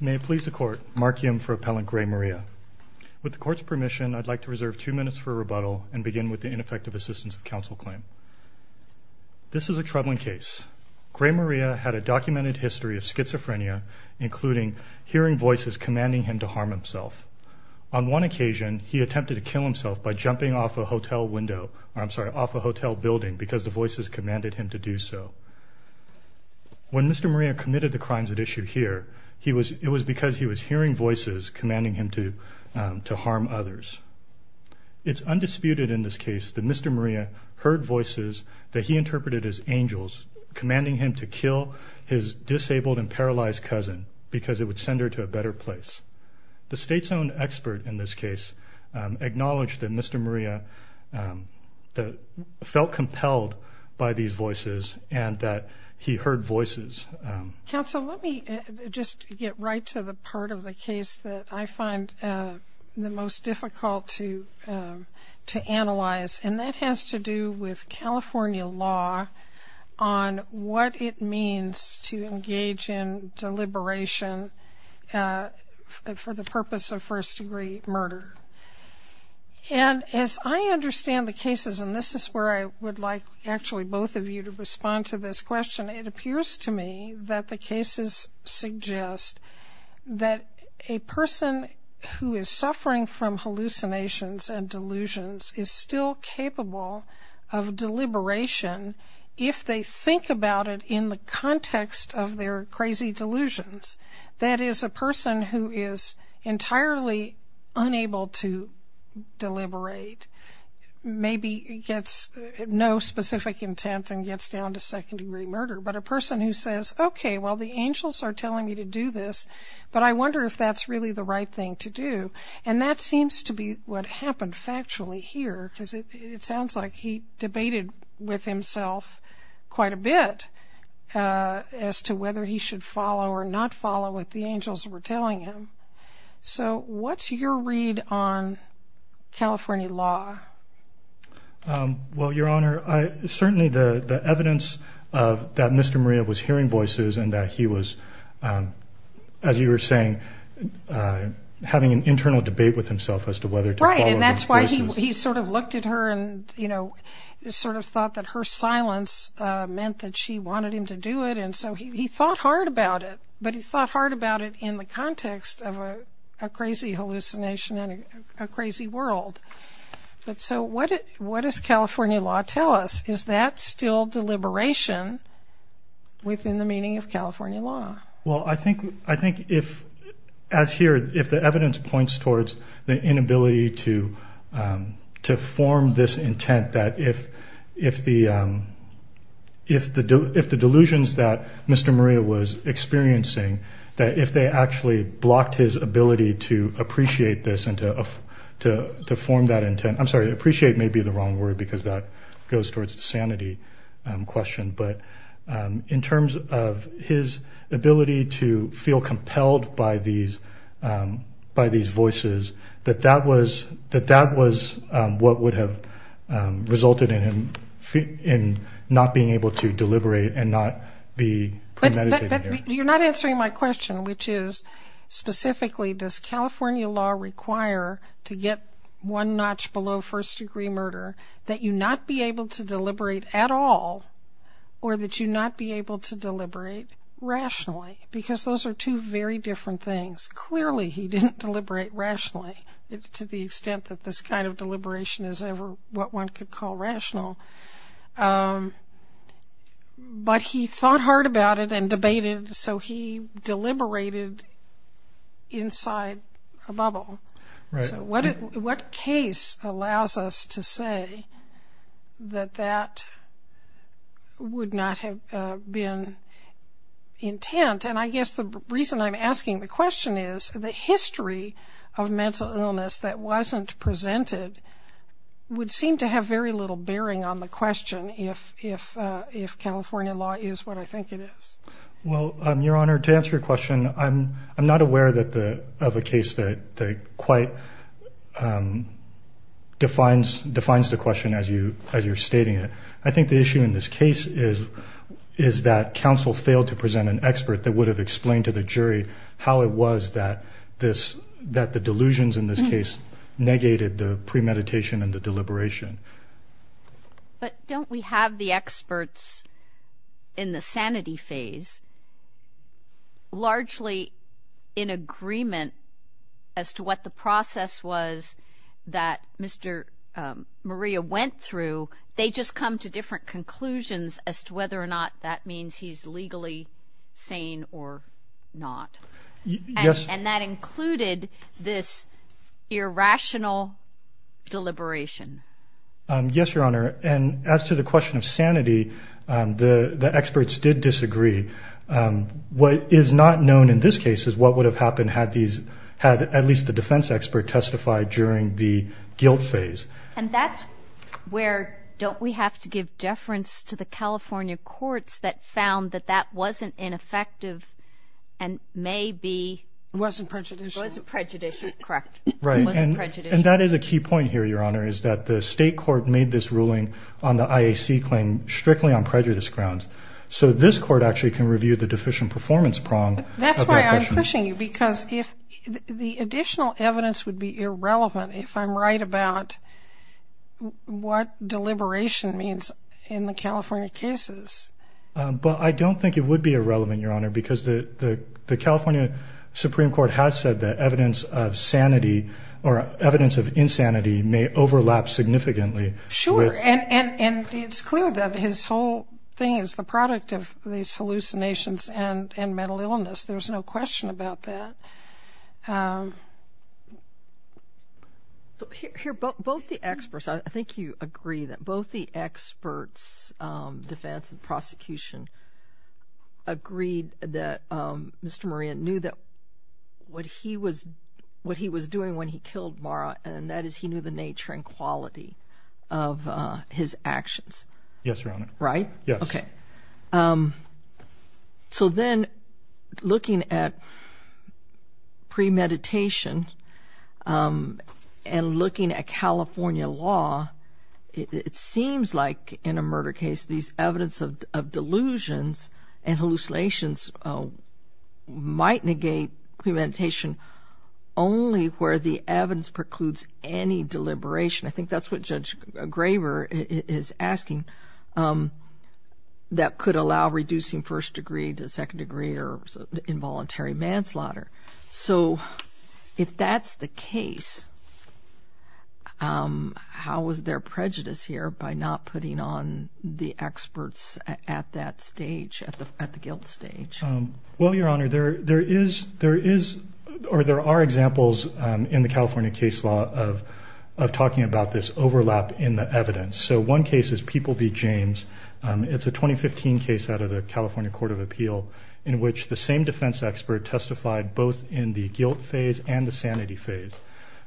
May it please the Court, Mark Yim for Appellant Gray-Maria. With the Court's permission, I'd like to reserve two minutes for rebuttal and begin with the ineffective assistance of counsel claim. This is a troubling case. Gray-Maria had a documented history of schizophrenia, including hearing voices commanding him to harm himself. On one occasion, he attempted to kill himself by jumping off a hotel window, I'm sorry, off a hotel building because the Mr. Maria committed the crimes at issue here. It was because he was hearing voices commanding him to harm others. It's undisputed in this case that Mr. Maria heard voices that he interpreted as angels, commanding him to kill his disabled and paralyzed cousin because it would send her to a better place. The state's own expert in this case acknowledged that Mr. Maria felt compelled by these voices and that he heard voices. Counsel, let me just get right to the part of the case that I find the most difficult to analyze and that has to do with California law on what it means to engage in deliberation for the purpose of first degree murder. And as I understand the cases, and this is where I would like actually both of you to respond to this question, it appears to me that the cases suggest that a person who is suffering from hallucinations and delusions is still capable of deliberation if they think about it in the context of their crazy delusions. That is a person who is entirely unable to deliberate, maybe gets no specific intent and gets down to second degree murder, but a person who says, okay, well the angels are telling me to do this, but I wonder if that's really the right thing to do. And that seems to be what happened factually here because it sounds like he debated with himself quite a bit as to whether he should follow or not follow. What's your read on California law? Well, Your Honor, certainly the evidence that Mr. Maria was hearing voices and that he was, as you were saying, having an internal debate with himself as to whether to follow those voices. Right, and that's why he sort of looked at her and sort of thought that her silence meant that she wanted him to do it and so he thought hard about it, but he thought hard about it in the context of a crazy hallucination and a crazy world. But so what does California law tell us? Is that still deliberation within the meaning of California law? Well, I think if, as here, if the evidence points towards the inability to form this intent, that if the delusions that Mr. Maria was having were experiencing, that if they actually blocked his ability to appreciate this and to form that intent, I'm sorry, appreciate may be the wrong word because that goes towards the sanity question, but in terms of his ability to feel compelled by these voices, that that was what would have resulted in him not being able to deliberate and not be prepared to meditate. But you're not answering my question, which is specifically does California law require to get one notch below first degree murder that you not be able to deliberate at all or that you not be able to deliberate rationally because those are two very different things. Clearly he didn't deliberate rationally to the extent that this kind of deliberation is ever what one could call rational. But he thought hard about it and debated so he deliberated inside a bubble. So what case allows us to say that that would not have been intent? And I guess the reason I'm asking the question is the history of mental illness that wasn't presented would seem to have very little bearing on the question if California law is what I think it is. Well, Your Honor, to answer your question, I'm not aware of a case that quite defines the question as you're stating it. I think the issue in this case is that counsel failed to present an expert that would have explained to the jury how it was that the delusions in this case negated the premeditation and the deliberation. But don't we have the experts in the sanity phase largely in agreement as to what the process was that Mr. Maria went through? They just come to different conclusions as to whether or not that means he's legally sane or not. And that included this irrational deliberation. Yes, Your Honor. And as to the question of sanity, the experts did disagree. What is not known in this case is what would have happened had at least the defense expert testified during the guilt phase. And that's where don't we have to give deference to the California courts that found that that wasn't ineffective and may be... Wasn't prejudicial. Wasn't prejudicial, correct. Right. And that is a key point here, Your Honor, is that the state court made this ruling on the IAC claim strictly on prejudice grounds. So this court actually can review the deficient performance prong of that question. That's why I'm pushing you because the additional evidence would be irrelevant if I'm right about what deliberation means in the California cases. But I don't think it would be irrelevant, Your Honor, because the California Supreme Court has said that evidence of sanity or evidence of insanity may overlap significantly. Sure. And it's clear that his whole thing is the product of these hallucinations and mental illness. There's no question about that. Here, both the experts, I think you agree that both the experts, defense and prosecution, agreed that Mr. Moran knew that what he was what he was doing when he killed Mara and that is he knew the nature and quality of his actions. Yes, Your Honor. Right. Yes. Okay. So then looking at premeditation and looking at California law, it seems like in a murder case these evidence of delusions and hallucinations might negate premeditation only where the evidence precludes any deliberation. I think that's what Judge Graber is asking. That could allow reducing first degree to second degree or involuntary manslaughter. So if that's the case, how is there prejudice here by not putting on the experts at that stage at the guilt stage? Well, Your Honor, there is there is or there are examples in the California case law of talking about this overlap in the evidence. So one case is People v. James. It's a 2015 case out of the California Court of Appeal in which the same defense expert testified both in the guilt phase and the sanity phase.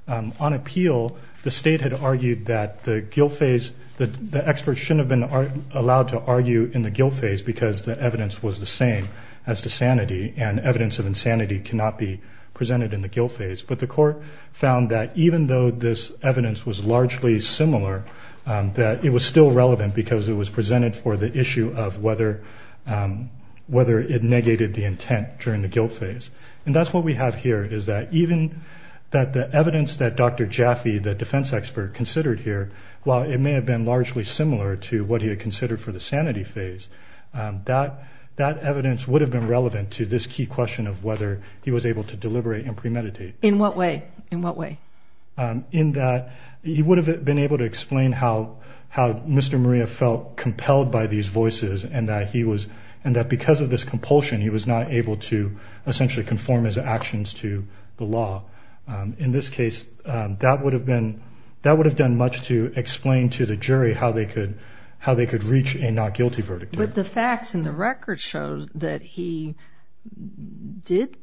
On appeal, the state had argued that the guilt phase, the experts shouldn't have been allowed to argue in the guilt phase because the evidence was the same as the sanity and evidence of insanity cannot be presented in the guilt phase. But the court found that even though this evidence was largely similar, that it was still relevant because it was presented for the issue of whether whether it negated the intent during the guilt phase. And that's what we have here is that even that the evidence that Dr. Jaffe, the defense expert considered here, while it may have been largely similar to what he had considered for the sanity phase, that that evidence would have been relevant to this key question of whether he was able to deliberate and premeditate. In what way? In what way? In that he would have been able to explain how how Mr. Maria felt compelled by these voices and that he was and that because of this compulsion, he was not able to essentially conform his actions to the law. In this case, that would have been that would have done much to explain to the jury how they could how they could reach a not guilty verdict. But the facts in the record show that he did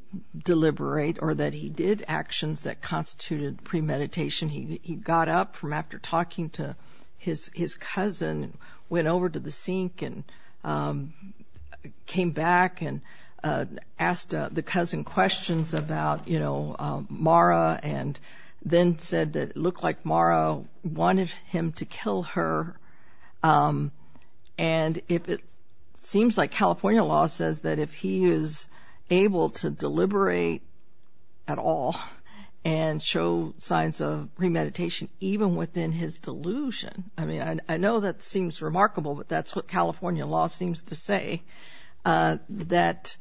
deliberate or that he did actions that constituted premeditation. He got up from after talking to his his cousin, went over to the sink and came back and asked the cousin questions about, you know, Mara and then said that it looked like Mara wanted him to kill her. And if it seems like California law says that if he is able to deliberate at all and show signs of premeditation, even within his delusion, I mean, I know that seems remarkable, but that's what California law seems to say that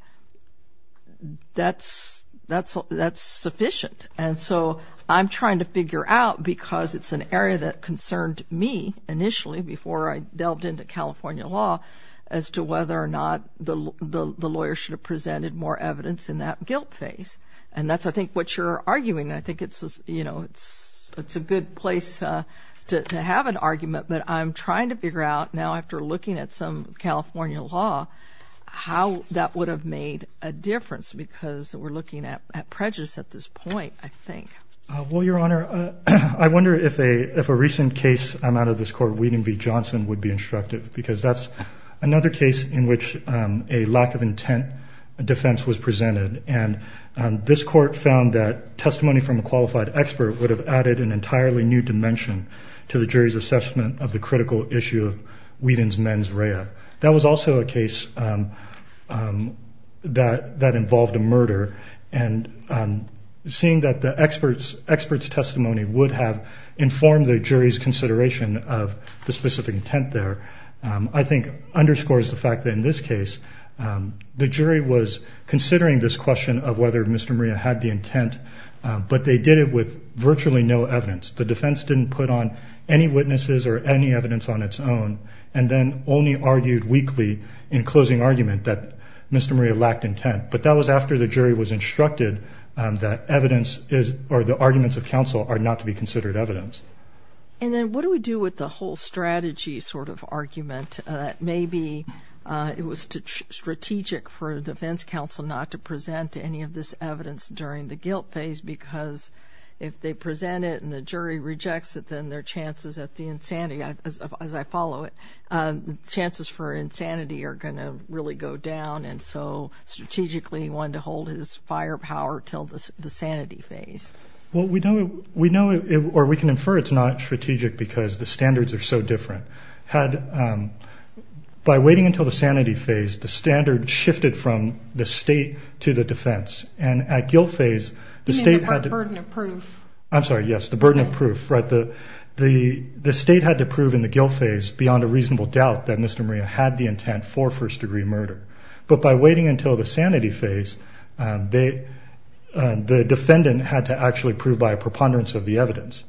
that's that's that's sufficient. And so I'm trying to figure out because it's an area that concerned me initially before I delved into California law as to whether or not the lawyer should have presented more evidence in that guilt phase. And that's, I think, what you're arguing. I think it's, you know, it's it's a good place to have an argument. But I'm trying to figure out now after looking at some California law, how that would have made a difference because we're looking at prejudice at this point, I think. Well, Your Honor, I wonder if a if a recent case I'm out of this court, Whedon v. Johnson, would be instructive because that's another case in which a lack of intent defense was presented. And this court found that testimony from a qualified expert would have added an entirely new dimension to the jury's critical issue of Whedon's mens rea. That was also a case that that involved a murder. And seeing that the expert's expert's testimony would have informed the jury's consideration of the specific intent there, I think, underscores the fact that in this case, the jury was considering this question of whether Mr. Maria had the intent, but they did it with virtually no evidence. The defense didn't put on any witnesses or any evidence on its own and then only argued weakly in closing argument that Mr. Maria lacked intent. But that was after the jury was instructed that evidence is or the arguments of counsel are not to be considered evidence. And then what do we do with the whole strategy sort of argument that maybe it was strategic for a defense counsel not to present any of this evidence during the guilt phase because if they present it and the jury rejects it, then their chances at the insanity, as I follow it, chances for insanity are going to really go down. And so strategically, he wanted to hold his firepower until the sanity phase. Well, we know or we can infer it's not strategic because the standards are so different. Had by waiting until the sanity phase, the standard shifted from the state to the defense. And at guilt phase, the state had to... You mean the burden of proof. I'm sorry. Yes, the burden of proof. The state had to prove in the guilt phase beyond a reasonable doubt that Mr. Maria had the intent for first degree murder. But by waiting until the sanity phase, the defendant had to actually prove by a preponderance of the evidence.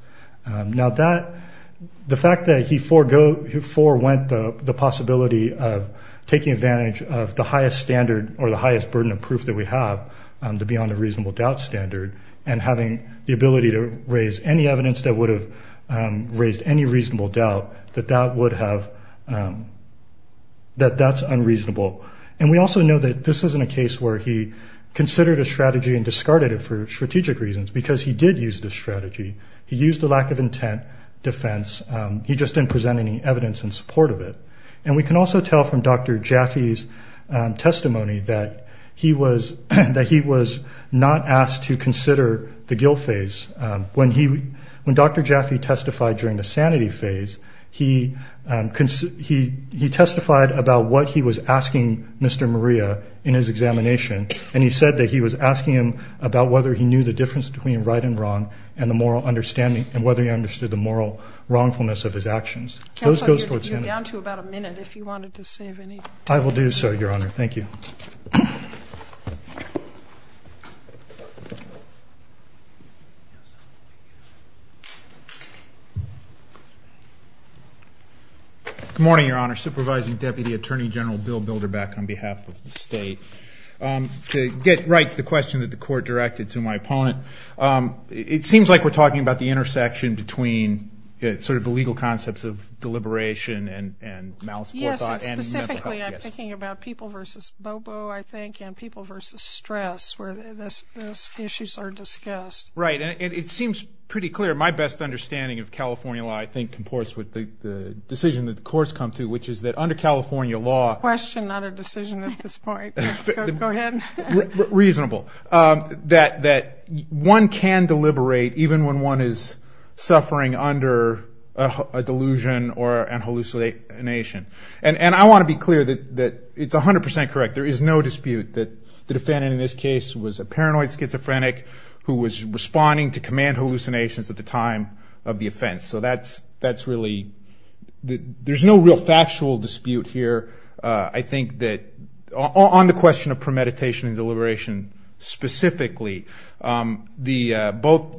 Now, the fact that he forewent the possibility of taking advantage of the highest standard of proof that we have to be on the reasonable doubt standard and having the ability to raise any evidence that would have raised any reasonable doubt, that that's unreasonable. And we also know that this isn't a case where he considered a strategy and discarded it for strategic reasons because he did use the strategy. He used the lack of intent defense. He just didn't present any evidence in support of it. And we can also tell from Dr. Jaffe's testimony that he was not asked to consider the guilt phase. When Dr. Jaffe testified during the sanity phase, he testified about what he was asking Mr. Maria in his examination, and he said that he was asking him about whether he knew the difference between right and wrong and whether he understood the moral wrongfulness of his actions. That's what you're going to get down to in about a minute if you wanted to save any time. I will do so, Your Honor. Thank you. Good morning, Your Honor. Supervising Deputy Attorney General Bill Bilderback on behalf of the State. To get right to the question that the Court directed to my opponent, it seems like we're talking about the intersection between sort of the legal concepts of deliberation and malice for thought and mental health. Yes, specifically I'm thinking about people versus bobo, I think, and people versus stress where those issues are discussed. Right. And it seems pretty clear my best understanding of California law, I think, comports with the decision that the Court's come to, which is that under California law- Question, not a decision at this point. Go ahead. Reasonable. That one can deliberate even when one is suffering under a delusion and hallucination. And I want to be clear that it's 100% correct. There is no dispute that the defendant in this case was a paranoid schizophrenic who was responding to command hallucinations at the time of the offense. So that's really-there's no real factual dispute here. I think that on the question of premeditation and deliberation specifically, both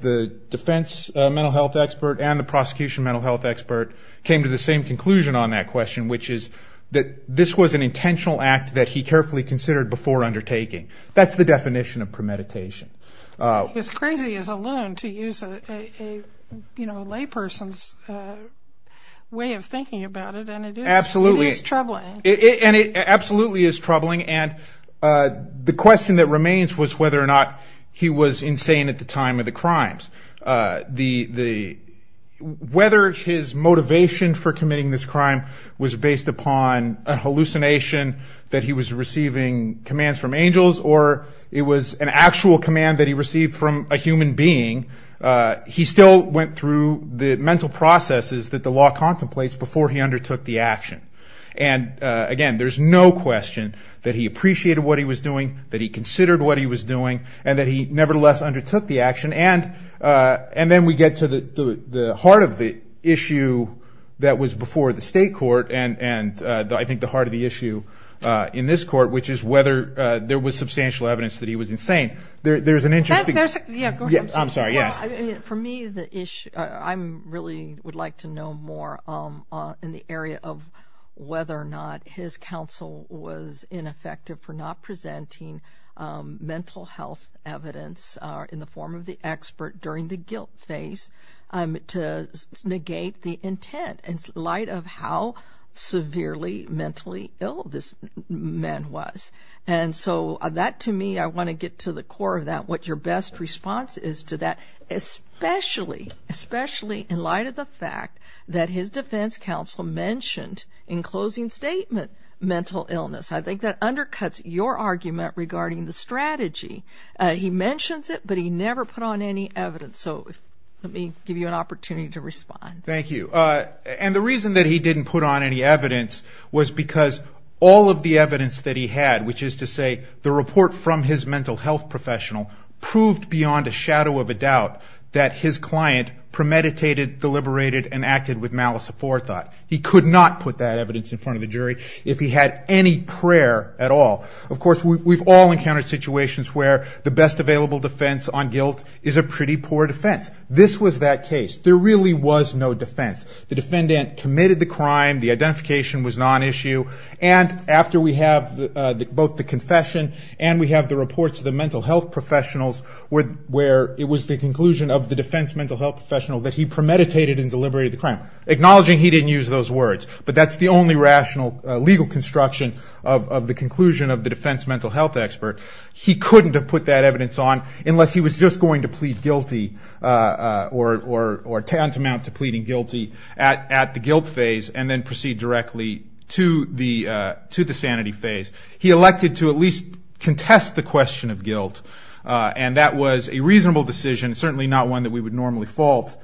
the defense mental health expert and the prosecution mental health expert came to the same conclusion on that question, which is that this was an intentional act that he carefully considered before undertaking. That's the definition of premeditation. It's crazy as a loon to use a layperson's way of thinking about it, and it is troubling. And it absolutely is troubling. And the question that remains was whether or not he was insane at the time of the crimes. Whether his motivation for committing this crime was based upon a hallucination that he was receiving commands from angels or it was an actual command that he received from a human being, he still went through the mental processes that the law contemplates before he undertook the action. And, again, there's no question that he appreciated what he was doing, that he considered what he was doing, and that he nevertheless undertook the action. And then we get to the heart of the issue that was before the state court and I think the heart of the issue in this court, which is whether there was substantial evidence that he was insane. There's an interesting- Yeah, go ahead. I'm sorry, yes. For me, I really would like to know more in the area of whether or not his counsel was ineffective for not presenting mental health evidence in the form of the expert during the guilt phase to negate the intent in light of how severely mentally ill this man was. And so that, to me, I want to get to the core of that, what your best response is to that, especially in light of the fact that his defense counsel mentioned in closing statement mental illness. I think that undercuts your argument regarding the strategy. He mentions it, but he never put on any evidence. So let me give you an opportunity to respond. Thank you. And the reason that he didn't put on any evidence was because all of the evidence that he had, which is to say the report from his mental health professional, proved beyond a shadow of a doubt that his client premeditated, deliberated, and acted with malice aforethought. He could not put that evidence in front of the jury if he had any prayer at all. Of course, we've all encountered situations where the best available defense on guilt is a pretty poor defense. This was that case. There really was no defense. The defendant committed the crime. The identification was not an issue. And after we have both the confession and we have the reports of the mental health professionals where it was the conclusion of the defense mental health professional that he premeditated and deliberated the crime. Acknowledging he didn't use those words, but that's the only rational legal construction of the conclusion of the defense mental health expert. He couldn't have put that evidence on unless he was just going to plead guilty or tantamount to pleading guilty at the guilt phase and then proceed directly to the sanity phase. He elected to at least contest the question of guilt. And that was a reasonable decision, certainly not one that we would normally fault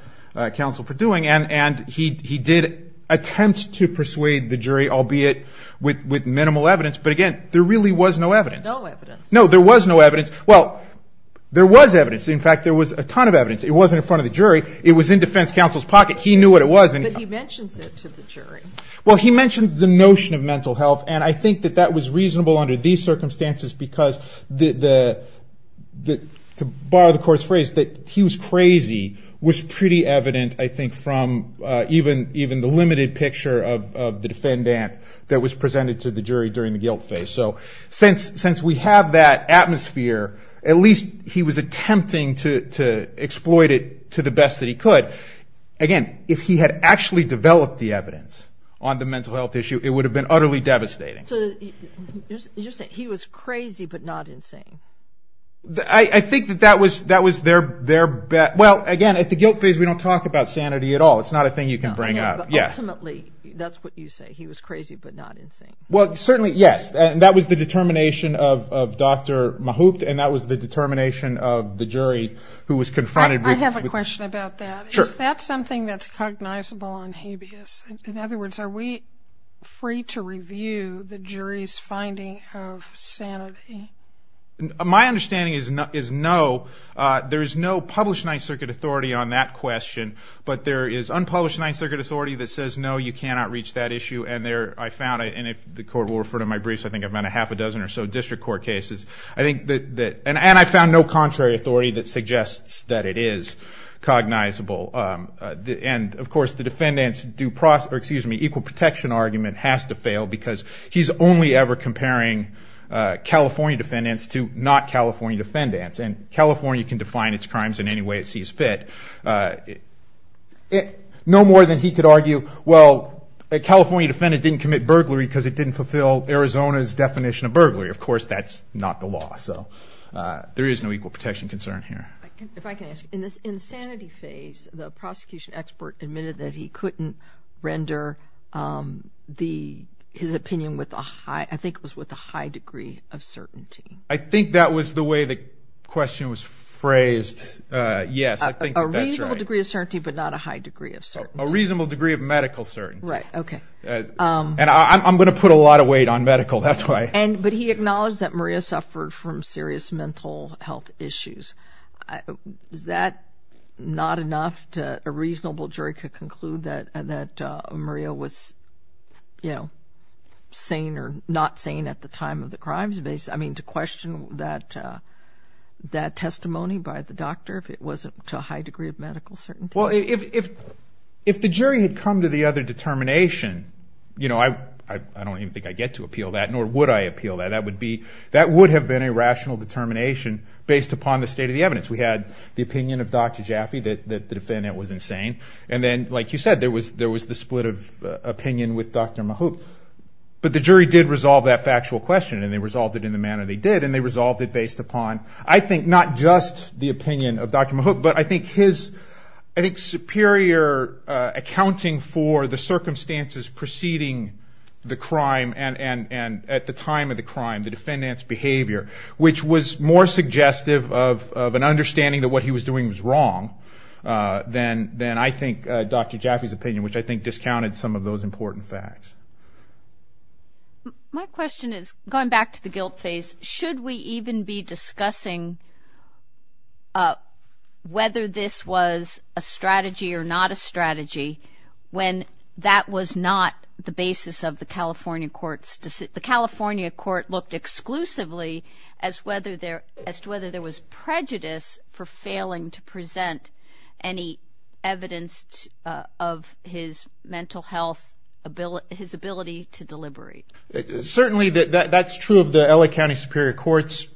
counsel for doing. And he did attempt to persuade the jury, albeit with minimal evidence. But again, there really was no evidence. No evidence. No, there was no evidence. Well, there was evidence. In fact, there was a ton of evidence. It wasn't in front of the jury. It was in defense counsel's pocket. He knew what it was. But he mentions it to the jury. Well, he mentioned the notion of mental health, and I think that that was reasonable under these circumstances because, to borrow the court's phrase, that he was crazy was pretty evident, I think, from even the limited picture of the defendant that was presented to the jury during the guilt phase. So since we have that atmosphere, at least he was attempting to exploit it to the best that he could. But again, if he had actually developed the evidence on the mental health issue, it would have been utterly devastating. So you're saying he was crazy but not insane. I think that that was their bet. Well, again, at the guilt phase we don't talk about sanity at all. It's not a thing you can bring up. But ultimately, that's what you say. He was crazy but not insane. Well, certainly, yes. That was the determination of Dr. Mahoopt, and that was the determination of the jury who was confronted with it. Is that something that's cognizable on habeas? In other words, are we free to review the jury's finding of sanity? My understanding is no. There is no published Ninth Circuit authority on that question, but there is unpublished Ninth Circuit authority that says, no, you cannot reach that issue. And I found, and if the court will refer to my briefs, I think I've done a half a dozen or so district court cases. And I found no contrary authority that suggests that it is cognizable. And, of course, the defendants' equal protection argument has to fail because he's only ever comparing California defendants to not California defendants. And California can define its crimes in any way it sees fit, no more than he could argue, well, a California defendant didn't commit burglary because it didn't fulfill Arizona's definition of burglary. Of course, that's not the law. So there is no equal protection concern here. If I can ask, in this insanity phase, the prosecution expert admitted that he couldn't render his opinion with a high, I think it was with a high degree of certainty. I think that was the way the question was phrased. Yes, I think that's right. A reasonable degree of certainty, but not a high degree of certainty. A reasonable degree of medical certainty. Right, okay. And I'm going to put a lot of weight on medical, that's why. But he acknowledged that Maria suffered from serious mental health issues. Is that not enough that a reasonable jury could conclude that Maria was, you know, sane or not sane at the time of the crime? I mean, to question that testimony by the doctor, if it wasn't to a high degree of medical certainty? Well, if the jury had come to the other determination, I don't even think I'd get to appeal that, nor would I appeal that. That would have been a rational determination based upon the state of the evidence. We had the opinion of Dr. Jaffe that the defendant was insane. And then, like you said, there was the split of opinion with Dr. Mahoup. But the jury did resolve that factual question, and they resolved it in the manner they did, and they resolved it based upon, I think, not just the opinion of Dr. Mahoup, but I think his superior accounting for the circumstances preceding the crime and at the time of the crime, the defendant's behavior, which was more suggestive of an understanding that what he was doing was wrong than I think Dr. Jaffe's opinion, which I think discounted some of those important facts. My question is, going back to the guilt phase, should we even be discussing whether this was a strategy or not a strategy when that was not the basis of the California court's decision? The California court looked exclusively as to whether there was prejudice for failing to present any evidence of his mental health, his ability to deliberate. Certainly, that's true of the L.A. County Superior Court's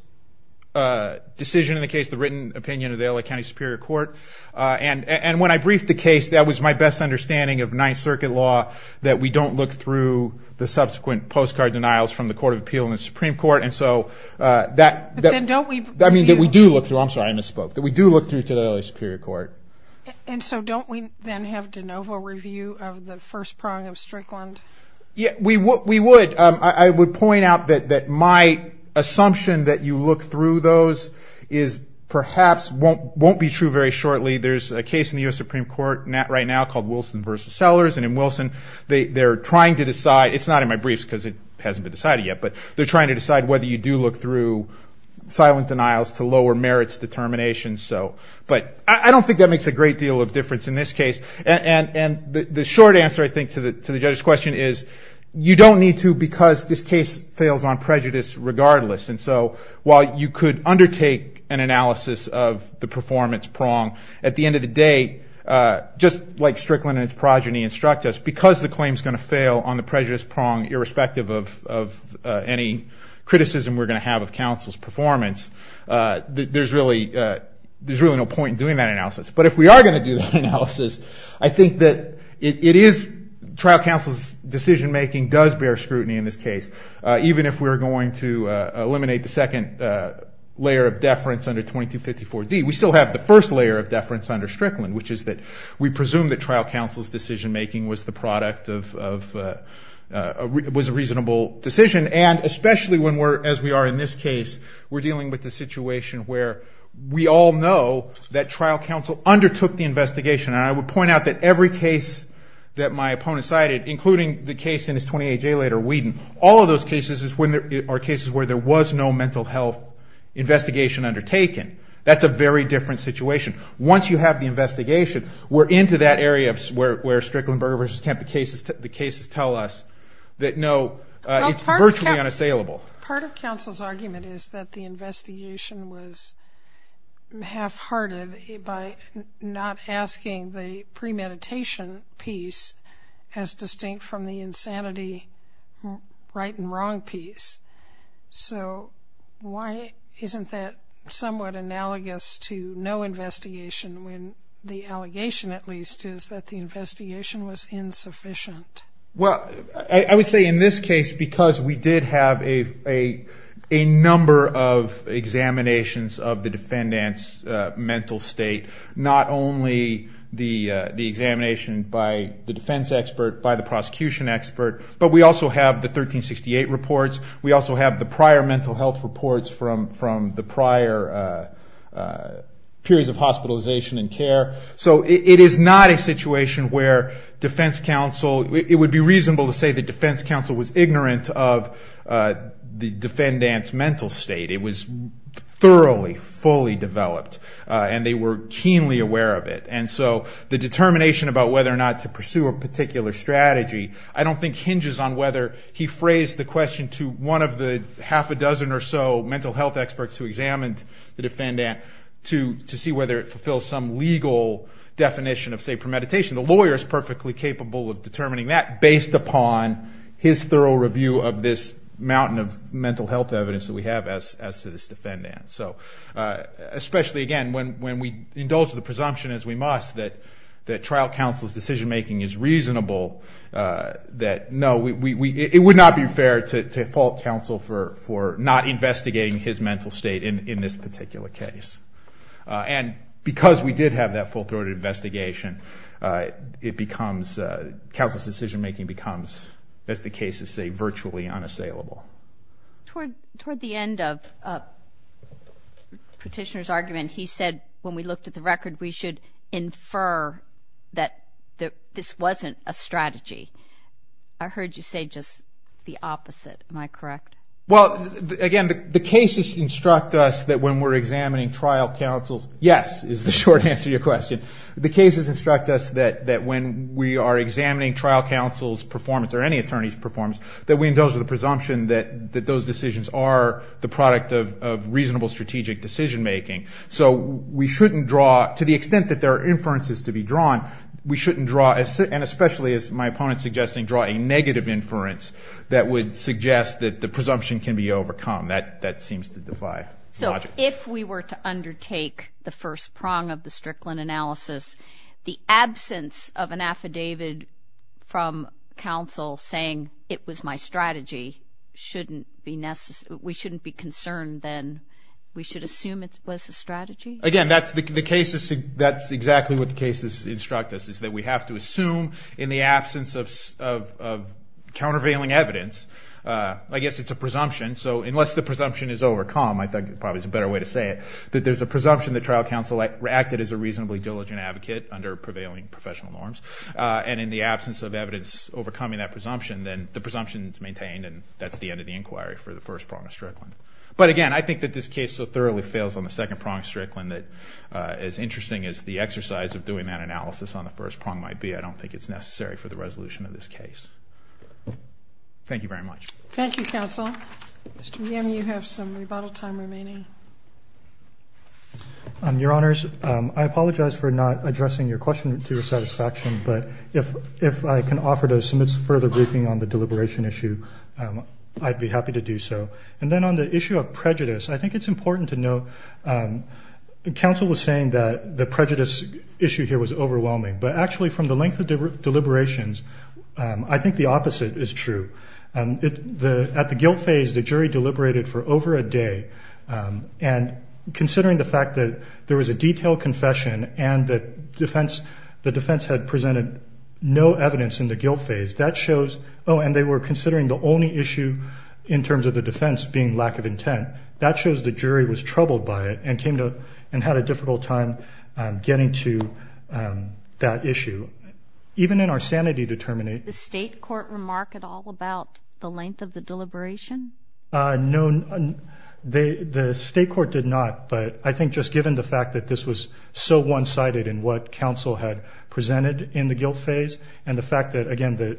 decision in the case, the written opinion of the L.A. County Superior Court. And when I briefed the case, that was my best understanding of Ninth Circuit law, that we don't look through the subsequent postcard denials from the Court of Appeal and the Supreme Court. And so that means that we do look through. I'm sorry, I misspoke. That we do look through to the L.A. Superior Court. And so don't we then have de novo review of the first prong of Strickland? We would. I would point out that my assumption that you look through those is perhaps won't be true very shortly. There's a case in the U.S. Supreme Court right now called Wilson v. Sellers. And in Wilson, they're trying to decide. It's not in my briefs because it hasn't been decided yet. But they're trying to decide whether you do look through silent denials to lower merits determination. But I don't think that makes a great deal of difference in this case. And the short answer, I think, to the judge's question is you don't need to because this case fails on prejudice regardless. And so while you could undertake an analysis of the performance prong, at the end of the day, just like Strickland and his progeny instruct us, because the claim is going to fail on the prejudice prong, irrespective of any criticism we're going to have of counsel's performance, there's really no point in doing that analysis. But if we are going to do that analysis, I think that it is trial counsel's decision-making does bear scrutiny in this case. Even if we're going to eliminate the second layer of deference under 2254D, we still have the first layer of deference under Strickland, which is that we presume that trial counsel's decision-making was the product of a reasonable decision. And especially as we are in this case, we're dealing with the situation where we all know that trial counsel undertook the investigation. And I would point out that every case that my opponent cited, including the case in his 28-day later, Whedon, all of those cases are cases where there was no mental health investigation undertaken. That's a very different situation. Once you have the investigation, we're into that area where Strickland, Berger v. Kemp, the cases tell us that, no, it's virtually unassailable. Part of counsel's argument is that the investigation was half-hearted by not asking the premeditation piece as distinct from the insanity right and wrong piece. So why isn't that somewhat analogous to no investigation, when the allegation, at least, is that the investigation was insufficient? Well, I would say in this case, because we did have a number of examinations of the defendant's mental state, not only the examination by the defense expert, by the prosecution expert, but we also have the 1368 reports. We also have the prior mental health reports from the prior periods of hospitalization and care. So it is not a situation where defense counsel, it would be reasonable to say that defense counsel was ignorant of the defendant's mental state. It was thoroughly, fully developed, and they were keenly aware of it. And so the determination about whether or not to pursue a particular strategy, I don't think hinges on whether he phrased the question to one of the half a dozen or so mental health experts who examined the defendant to see whether it fulfills some legal definition of, say, premeditation. The lawyer is perfectly capable of determining that, based upon his thorough review of this mountain of mental health evidence that we have as to this defendant. So especially, again, when we indulge the presumption, as we must, that trial counsel's decision-making is reasonable, that, no, it would not be fair to fault counsel for not investigating his mental state in this particular case. And because we did have that full-throated investigation, it becomes, counsel's decision-making becomes, as the cases say, virtually unassailable. Toward the end of the petitioner's argument, he said, when we looked at the record, we should infer that this wasn't a strategy. I heard you say just the opposite. Am I correct? Well, again, the cases instruct us that when we're examining trial counsel's, yes is the short answer to your question, the cases instruct us that when we are examining trial counsel's performance, or any attorney's performance, that we indulge the presumption that those decisions are the product of reasonable strategic decision-making. So we shouldn't draw, to the extent that there are inferences to be drawn, we shouldn't draw, and especially as my opponent's suggesting, draw a negative inference that would suggest that the presumption can be overcome. That seems to defy logic. So if we were to undertake the first prong of the Strickland analysis, the absence of an affidavit from counsel saying it was my strategy shouldn't be necessary, we shouldn't be concerned, then we should assume it was a strategy? Again, that's exactly what the cases instruct us, is that we have to assume in the absence of countervailing evidence, I guess it's a presumption, so unless the presumption is overcome, I think probably is a better way to say it, that there's a presumption that trial counsel acted as a reasonably diligent advocate under prevailing professional norms, and in the absence of evidence overcoming that presumption, then the presumption is maintained and that's the end of the inquiry for the first prong of Strickland. But again, I think that this case so thoroughly fails on the second prong of Strickland that as interesting as the exercise of doing that analysis on the first prong might be, I don't think it's necessary for the resolution of this case. Thank you very much. Thank you, counsel. Mr. Meehan, you have some rebuttal time remaining. Your Honors, I apologize for not addressing your question to your satisfaction, but if I can offer to submit further briefing on the deliberation issue, I'd be happy to do so. And then on the issue of prejudice, I think it's important to note, counsel was saying that the prejudice issue here was overwhelming, but actually from the length of deliberations, I think the opposite is true. At the guilt phase, the jury deliberated for over a day, and considering the fact that there was a detailed confession and the defense had presented no evidence in the guilt phase, that shows, oh, and they were considering the only issue in terms of the defense being lack of intent, that shows the jury was troubled by it and had a difficult time getting to that issue. Even in our sanity to terminate. Did the state court remark at all about the length of the deliberation? No, the state court did not. But I think just given the fact that this was so one-sided in what counsel had presented in the guilt phase and the fact that, again,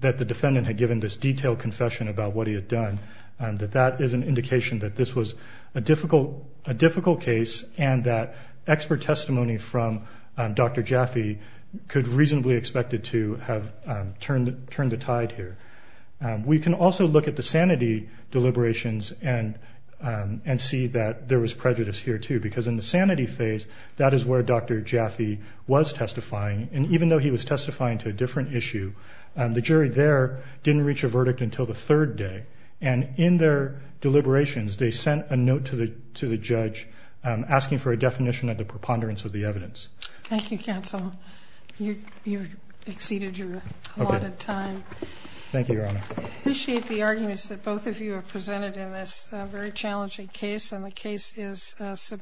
that the defendant had given this detailed confession about what he had done, that that is an indication that this was a difficult case and that expert testimony from Dr. Jaffe could reasonably expect it to have turned the tide here. We can also look at the sanity deliberations and see that there was prejudice here, too, because in the sanity phase, that is where Dr. Jaffe was testifying. And even though he was testifying to a different issue, the jury there didn't reach a verdict until the third day. And in their deliberations, they sent a note to the judge asking for a definition of the preponderance of the evidence. Thank you, counsel. You've exceeded your allotted time. Thank you, Your Honor. I appreciate the arguments that both of you have presented in this very challenging case, and the case is subpoenaed.